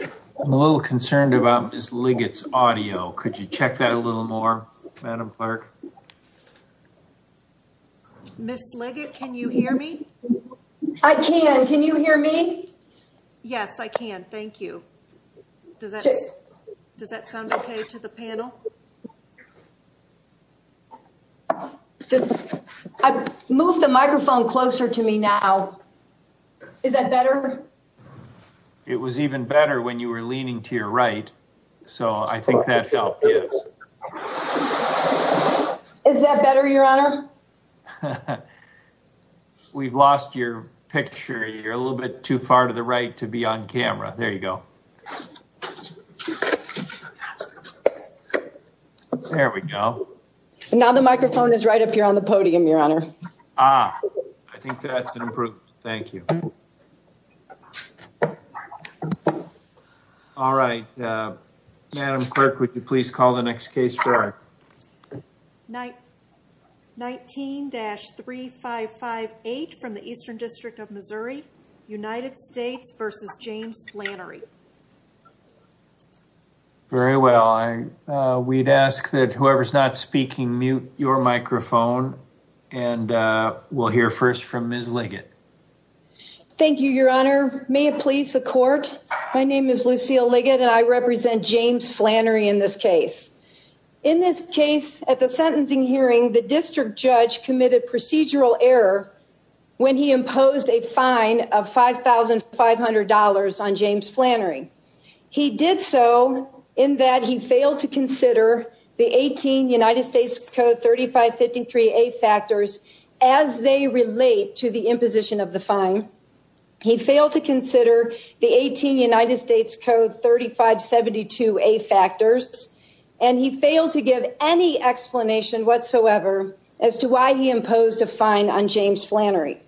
I'm a little concerned about Miss Liggett's audio. Could you check that a little more, Madam Clerk? Miss Liggett, can you hear me? I can. Can you hear me? Yes, I can. Thank you. Does that sound okay to the panel? I moved the microphone closer to me now. Is that better? It was even better when you were leaning to your right. So I think that helped. Is that better, Your Honor? We've lost your picture. You're a little bit too far to the right to be on camera. There you go. There we go. Now the microphone is right up here on the podium, Your Honor. I think that's improved. Thank you. All right. Madam Clerk, would you please call the next case for us? 19-3558 from the Eastern District of Missouri, United States v. James Flannery. Very well. We'd ask that whoever's not speaking mute your microphone and we'll hear first from Miss Liggett. Thank you, Your Honor. May it please the Court. My name is Lucille Liggett, and I represent James Flannery in this case. In this case, at the sentencing hearing, the district judge committed procedural error when he imposed a fine of $5,500 on James Flannery. He did so in that he failed to consider the 18 United States Code 3553A factors as they relate to the imposition of the fine. He failed to consider the 18 United States Code 3572A factors, and he failed to give any explanation whatsoever as to why he imposed a fine on James Flannery.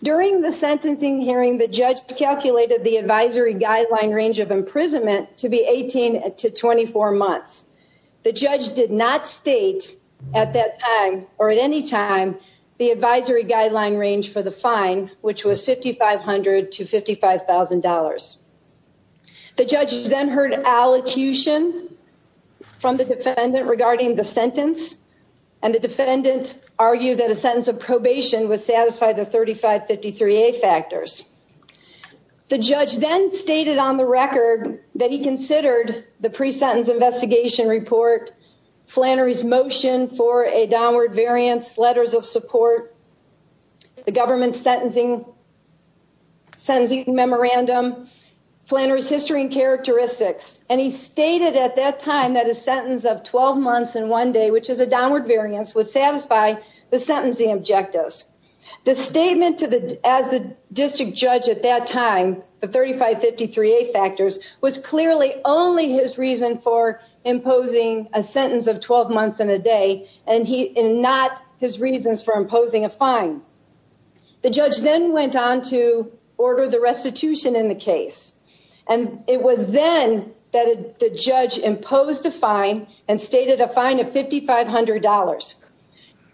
During the sentencing hearing, the judge calculated the advisory guideline range of imprisonment to be 18 to 24 months. The judge did not state at that time or at any time the advisory guideline range for the fine, which was $5,500 to $55,000. The judge then heard allocution from the defendant regarding the sentence, and the defendant argued that a sentence of probation would satisfy the 3553A factors. The judge then stated on the record that he considered the pre-sentence investigation report, Flannery's motion for a downward variance, letters of support, the government's sentencing memorandum, Flannery's history and characteristics, and he stated at that time that a sentence of 12 months would satisfy the sentencing objectives. The statement as the district judge at that time, the 3553A factors, was clearly only his reason for imposing a sentence of 12 months and a day, and not his reasons for imposing a fine. The judge then went on to order the restitution in the case, and it was then that the judge imposed a fine and stated a fine of $5,500.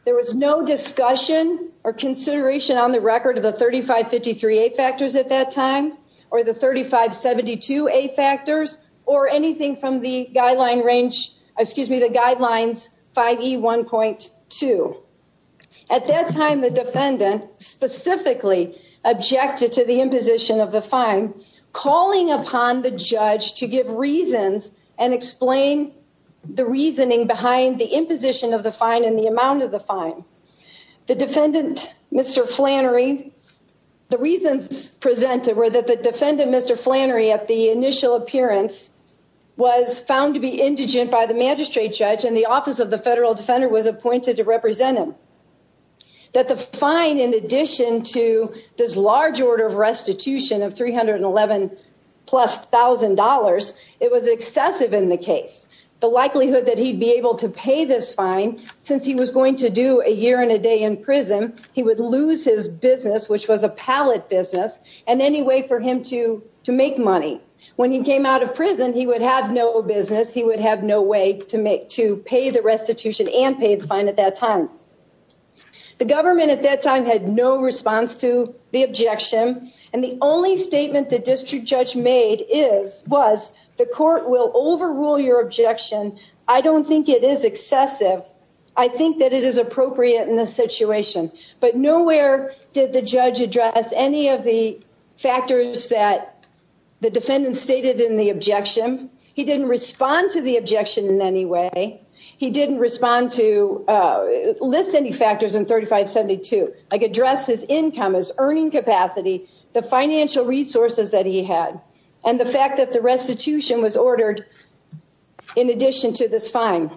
There was no discussion or consideration on the record of the 3553A factors at that time, or the 3572A factors, or anything from the guidelines 5E1.2. At that time, the defendant specifically objected to the imposition of the fine, calling upon the judge to give reasons and explain the reasoning behind the imposition of the fine and the amount of the fine. The defendant, Mr. Flannery, the reasons presented were that the defendant, Mr. Flannery, at the initial appearance was found to be indigent by the magistrate judge and the office of the to this large order of restitution of $311,000, it was excessive in the case. The likelihood that he'd be able to pay this fine, since he was going to do a year and a day in prison, he would lose his business, which was a pallet business, and any way for him to make money. When he came out of prison, he would have no business, he would have no way to pay the response to the objection. And the only statement the district judge made was, the court will overrule your objection, I don't think it is excessive, I think that it is appropriate in this situation. But nowhere did the judge address any of the factors that the defendant stated in the objection. He didn't respond to the objection in any way. He didn't respond to, list any factors in 3572, like address his income, his earning capacity, the financial resources that he had, and the fact that the restitution was ordered in addition to this fine.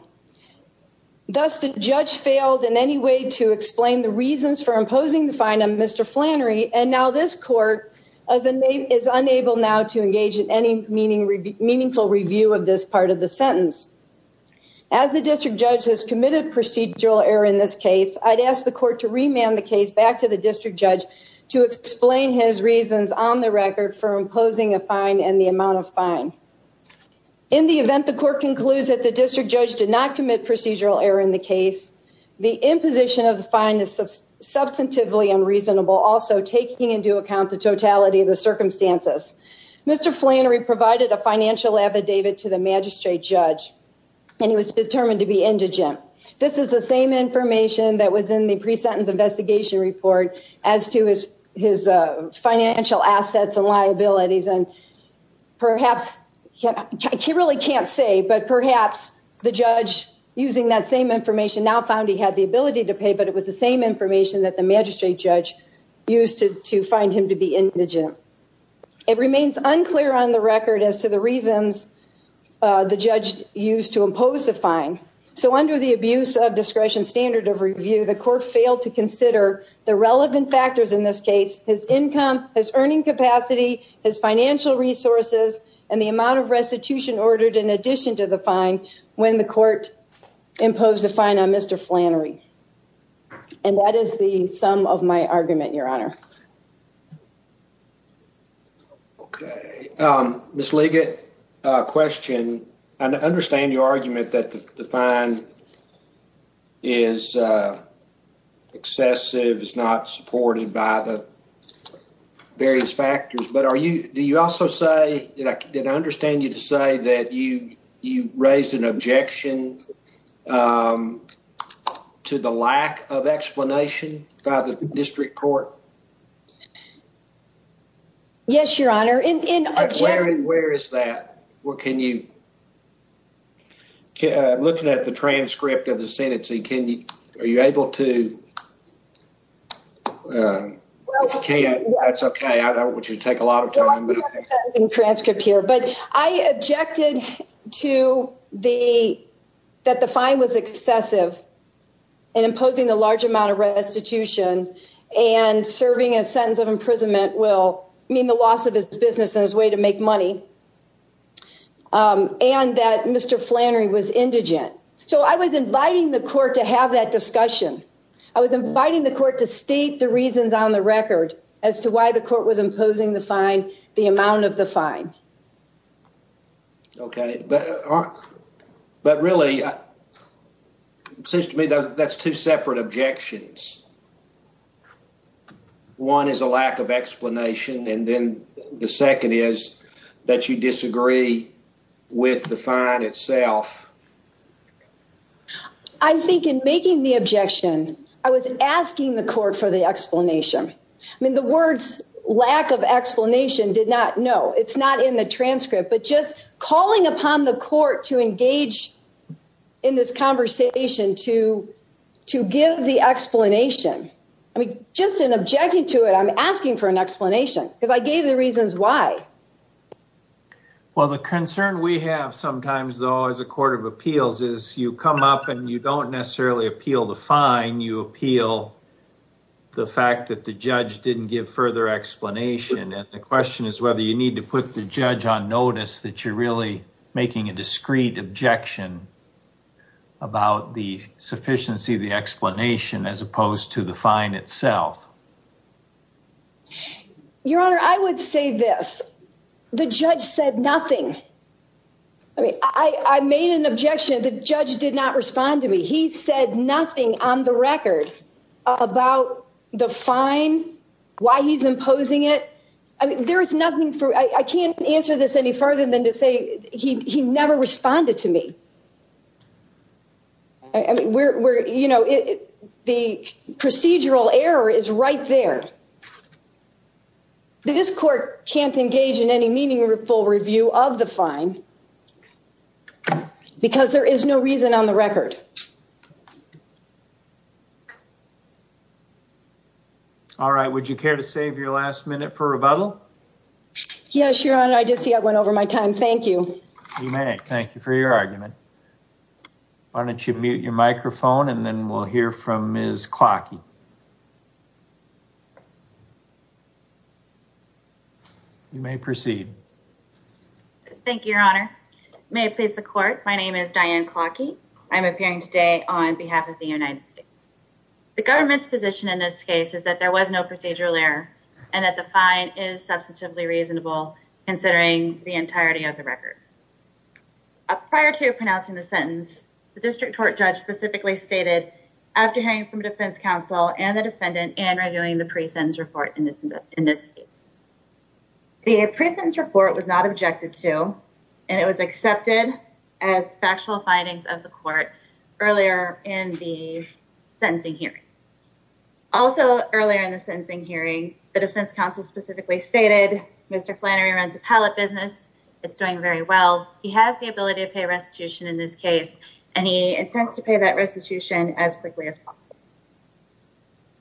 Thus, the judge failed in any way to explain the reasons for imposing the fine on Mr. Flannery, and now this court is unable now to engage in any meaningful review of this part of the sentence. As the district judge has committed procedural error in this case, I'd ask the court to remand the case back to the district judge to explain his reasons on the record for imposing a fine and the amount of fine. In the event the court concludes that the district judge did not commit procedural error in the case, the imposition of the fine is substantively unreasonable, also taking into account the totality of the circumstances. Mr. Flannery provided a financial affidavit to the magistrate judge, and he was determined to be indigent. This is the same information that was in the pre-sentence investigation report as to his financial assets and liabilities, and perhaps, I really can't say, but perhaps the judge using that same information now found he had the ability to pay, but it was the same information that the magistrate used to find him to be indigent. It remains unclear on the record as to the reasons the judge used to impose the fine, so under the abuse of discretion standard of review, the court failed to consider the relevant factors in this case, his income, his earning capacity, his financial resources, and the amount of restitution ordered in addition to the fine when the court imposed a fine on Mr. Flannery, and that is the sum of my argument, Your Honor. Okay, Ms. Liggett, a question. I understand your argument that the fine is excessive, is not supported by the various factors, but do you also say, did I understand you to say that you raised an objection to the lack of explanation by the district court? Yes, Your Honor. Where is that? What can you, looking at the transcript of the sentencing, are you able to, if you can't, that's okay. I don't want you to take a lot of time. In transcript here, but I objected to the, that the fine was excessive and imposing a large amount of restitution and serving a sentence of imprisonment will mean the loss of his business and his way to make money, and that Mr. Flannery was indigent. So I was inviting the court to have that discussion. I was inviting the court to state the reasons on the record as to why the court was imposing the fine, the amount of the fine. Okay, but really, it seems to me that that's two separate objections. One is a lack of explanation, and then the second is that you disagree with the fine itself. I think in making the objection, I was asking the court for the explanation. I mean, the words lack of explanation did not, no, it's not in the transcript, but just calling upon the court to engage in this conversation to give the explanation. I mean, just in objecting to it, I'm asking for an explanation because I gave the reasons why. Well, the concern we have sometimes, though, as a court of appeals is you come up and you don't necessarily appeal the fine. You appeal the fact that the judge didn't give further explanation, and the question is whether you need to put the judge on notice that you're really making a discreet objection about the sufficiency of the explanation as opposed to the fine itself. Your Honor, I would say this. The judge said nothing. I mean, I made an objection. The judge did not respond to me. He said nothing on the record about the fine, why he's imposing it. I mean, there is nothing for, I can't answer this any further than to say he never responded to me. I mean, we're, you know, the procedural error is right there. This court can't engage in any meaningful review of the fine because there is no reason on the record. All right. Would you care to save your last minute for rebuttal? Yes, Your Honor. I did see I went over my time. Thank you. You may. Thank you for your argument. Why don't you mute your microphone, and then we'll hear from Ms. Klocky. You may proceed. Thank you, Your Honor. May it please the court, my name is Diane Klocky. I'm appearing today on behalf of the United States. The government's position in this case is that there was no procedural error and that the fine is substantively reasonable considering the entirety of the record. Prior to pronouncing the sentence, the district court judge specifically stated, after hearing from defense counsel and the defendant and reviewing the pre-sentence report in this case. The pre-sentence report was not objected to, and it was accepted as factual findings of the court earlier in the sentencing hearing. Also earlier in the sentencing hearing, the defense counsel specifically stated, Mr. Flannery runs a pallet business. It's doing very well. He has the ability to pay restitution in this case, and he intends to pay that restitution as quickly as possible.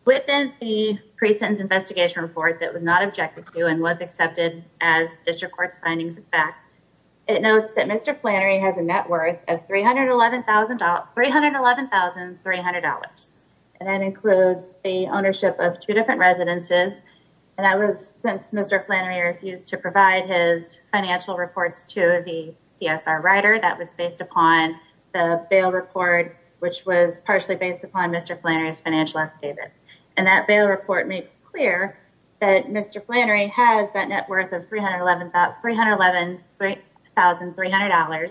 Within the pre-sentence investigation report that was not objected to, and was accepted as district court's findings of fact, it notes that Mr. Flannery has a net worth of $311,300, and that includes the ownership of two different residences. And that was since Mr. Flannery refused to provide his financial reports to the PSR writer. That was based upon the bail report, which was partially based upon Mr. Flannery's financial affidavit. And that bail report makes clear that Mr. Flannery has that net worth of $311,300,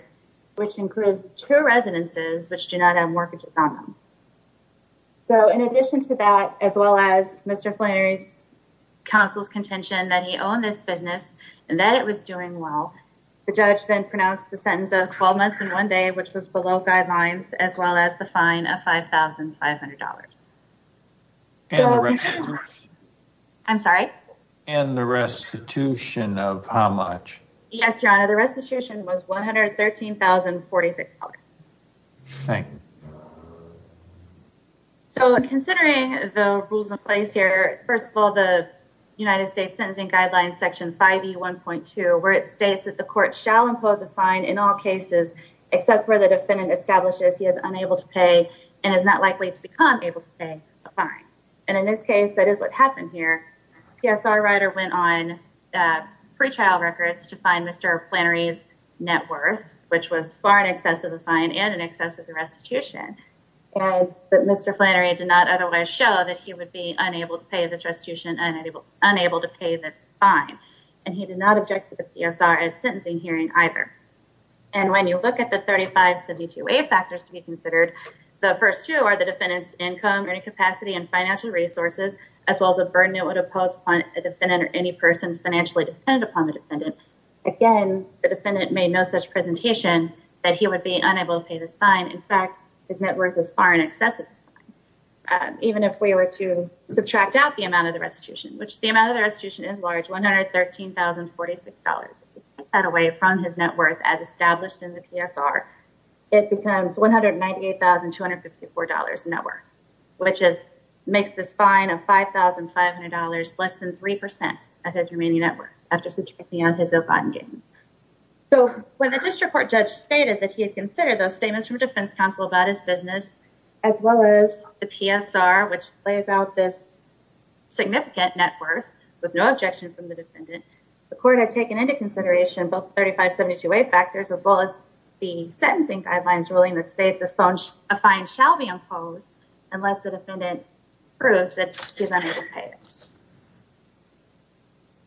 which includes two residences which do not have mortgages on them. So, in addition to that, as well as Mr. Flannery's counsel's contention that he owned this business and that it was doing well, the judge then pronounced the sentence of 12 months and one day, which was below guidelines, as well as the fine of $5,500. I'm sorry? And the restitution of how much? Yes, Your Honor, the restitution was $113,046. Thank you. So, considering the rules in place here, first of all, the United States Sentencing Guidelines Section 5E1.2, where it states that the court shall impose a fine in all cases, except where the defendant establishes he is unable to pay and is not likely to become able to pay a fine. And in this case, that is what happened here. PSR writer went on pre-trial records to find Mr. Flannery's net worth, which was far in excess of the fine and in excess of the restitution. And Mr. Flannery did not otherwise show that he would be unable to pay this restitution and unable to pay this fine. And he did not object to the PSR at sentencing hearing either. And when you look at the 3572A factors to be considered, the first two are the defendant's income, earning capacity, and financial resources, as well as the burden it would impose upon a defendant or any person financially dependent upon the defendant. Again, the defendant made no such presentation that he would be unable to pay this fine. In fact, his net worth is far in excess of the fine. Even if we were to subtract out the amount of the restitution, which the amount of the restitution is large, $113,046, cut away from his net worth as established in the PSR, it becomes $198,254 net worth, which makes this fine of $5,500 less than 3% of his remaining net worth after subtracting out his bond gains. So when the district court judge stated that he had considered those statements from defense counsel about his business, as well as the PSR, which lays out this significant net worth with no objection from the defendant, the court had taken into consideration both 3572A factors, as well as the sentencing guidelines ruling that states a fine shall be imposed unless the defendant proves that he's unable to pay it.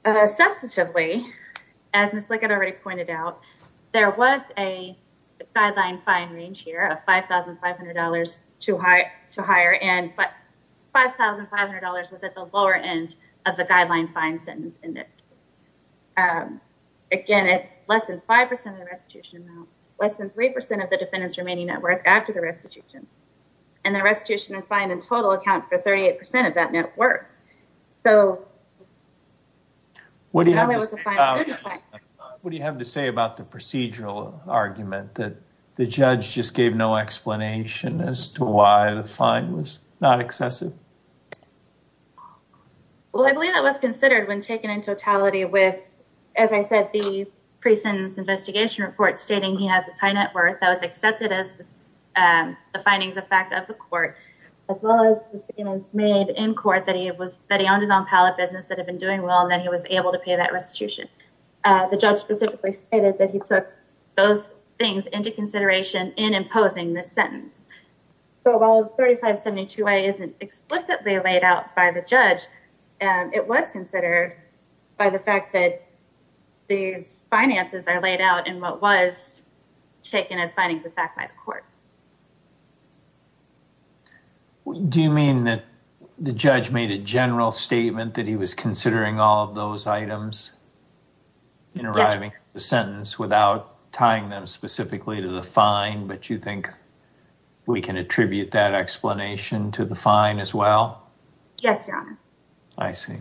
Substantively, as Ms. Lickett already pointed out, there was a guideline fine range here of $5,500 to higher end, $5,500 was at the lower end of the guideline fine sentence in this case. Again, it's less than 5% of the restitution amount, less than 3% of the defendant's remaining net worth after the restitution, and the restitution and fine in total account for 38% of that net worth. What do you have to say about the procedural argument that the judge just gave no explanation as to why the fine was not excessive? Well, I believe that was considered when taken in totality with, as I said, the pre-sentence investigation report stating he has this high net worth that was accepted as the findings of fact of the court, as well as the statements made in court that he owned his own pallet business that had been doing well, and that he was able to pay that restitution. The judge specifically stated that he took those things into consideration in imposing the sentence. So while 3572A isn't explicitly laid out by the judge, it was considered by the fact that these finances are laid out in what was taken as findings of fact by the court. Do you mean that the judge made a general statement that he was considering all of those items in arriving at the sentence without tying them specifically to the fine, but you think we can attribute that explanation to the fine as well? Yes, your honor. I see.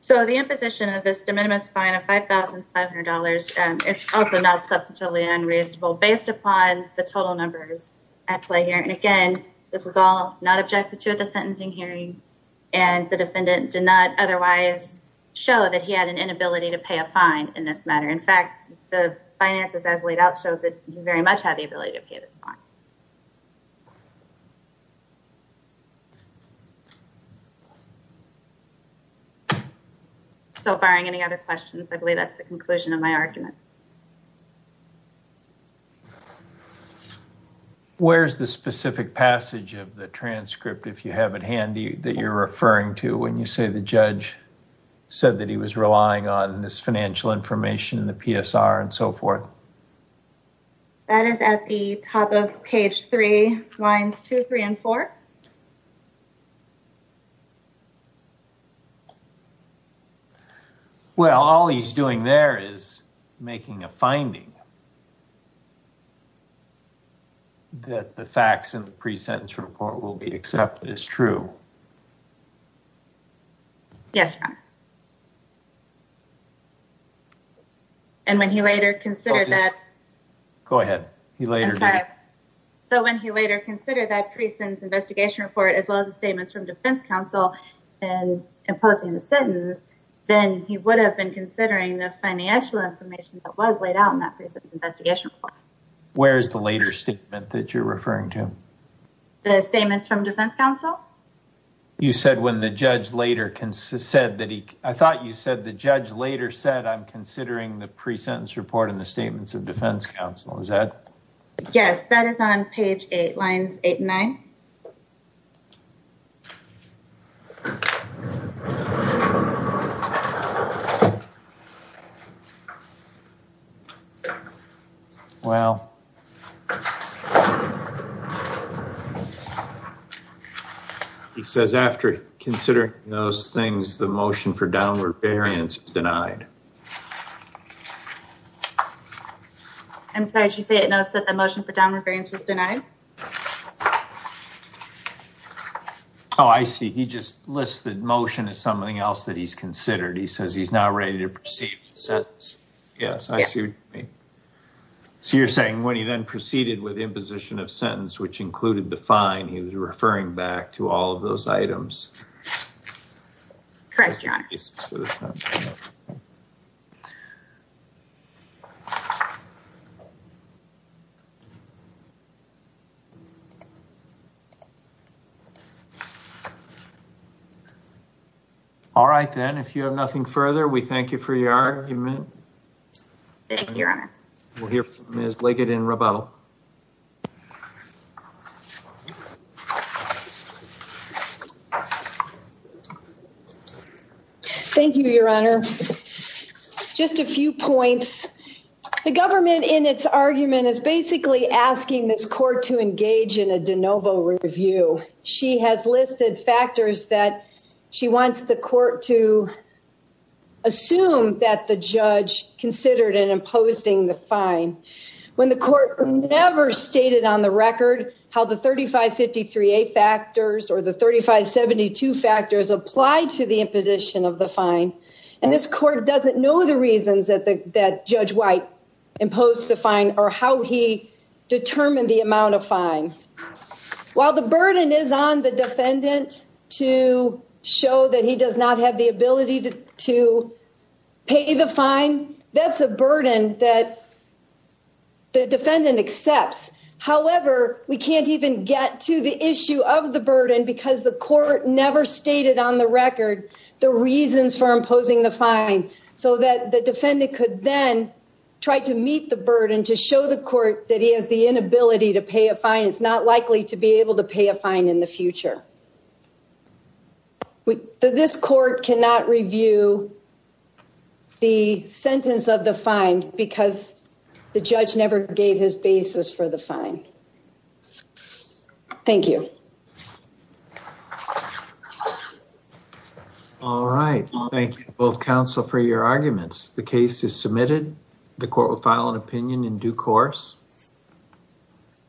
So the imposition of this de minimis fine of $5,500 is also not substantively unreasonable based upon the total numbers at play here. And again, this was all not objected to at the time. In fact, the finances as laid out show that he very much had the ability to pay this fine. So barring any other questions, I believe that's the conclusion of my argument. Where's the specific passage of the transcript, if you have it handy, that you're referring to when you say the judge said that he was relying on this financial information and the PSR and so forth? That is at the top of page three, lines two, three, and four. Well, all he's doing there is making a finding that the facts in the pre-sentence report will be accepted as true. Yes, your honor. And when he later considered that... Go ahead. So when he later considered that pre-sentence investigation report, as well as the statements from defense counsel in imposing the sentence, then he would have been considering the financial information that was laid out in that pre-sentence investigation report. Where is the later statement that you're referring to? The statements from defense counsel? You said when the judge later said that he... I thought you said the judge later said, I'm considering the pre-sentence report and the statements of defense counsel. Is that... Yes, that is on page eight, lines eight and nine. Okay. Well, he says after considering those things, the motion for downward variance denied. I'm sorry, did you say it knows that the motion for downward variance was denied? Oh, I see. He just lists the motion as something else that he's considered. He says he's not ready to proceed with the sentence. Yes, I see what you mean. So you're saying when he then proceeded with imposition of sentence, which included the fine, he was referring back to all of those items. Correct, your honor. All right, then if you have nothing further, we thank you for your argument. Thank you, your honor. We'll hear from Ms. Liggett in rebuttal. Thank you, your honor. Just a few points. The government in its argument is basically asking this court to engage in a de novo review. She has listed factors that she wants the court to assume that the judge considered in imposing the fine. When the court never stated on the record how the 3553A factors or the 3572 factors apply to the imposition of the fine, and this court doesn't know the reasons that Judge White imposed the fine or how he determined the amount of fine. While the burden is on the defendant to show that he does not have the ability to pay the fine, that's a burden that the defendant accepts. However, we can't even get to the issue of burden because the court never stated on the record the reasons for imposing the fine, so that the defendant could then try to meet the burden to show the court that he has the inability to pay a fine. It's not likely to be able to pay a fine in the future. This court cannot review the sentence of the fines because the judge never gave his basis for the fine. Thank you. All right, thank you both counsel for your arguments. The case is submitted. The court will file an opinion in due course.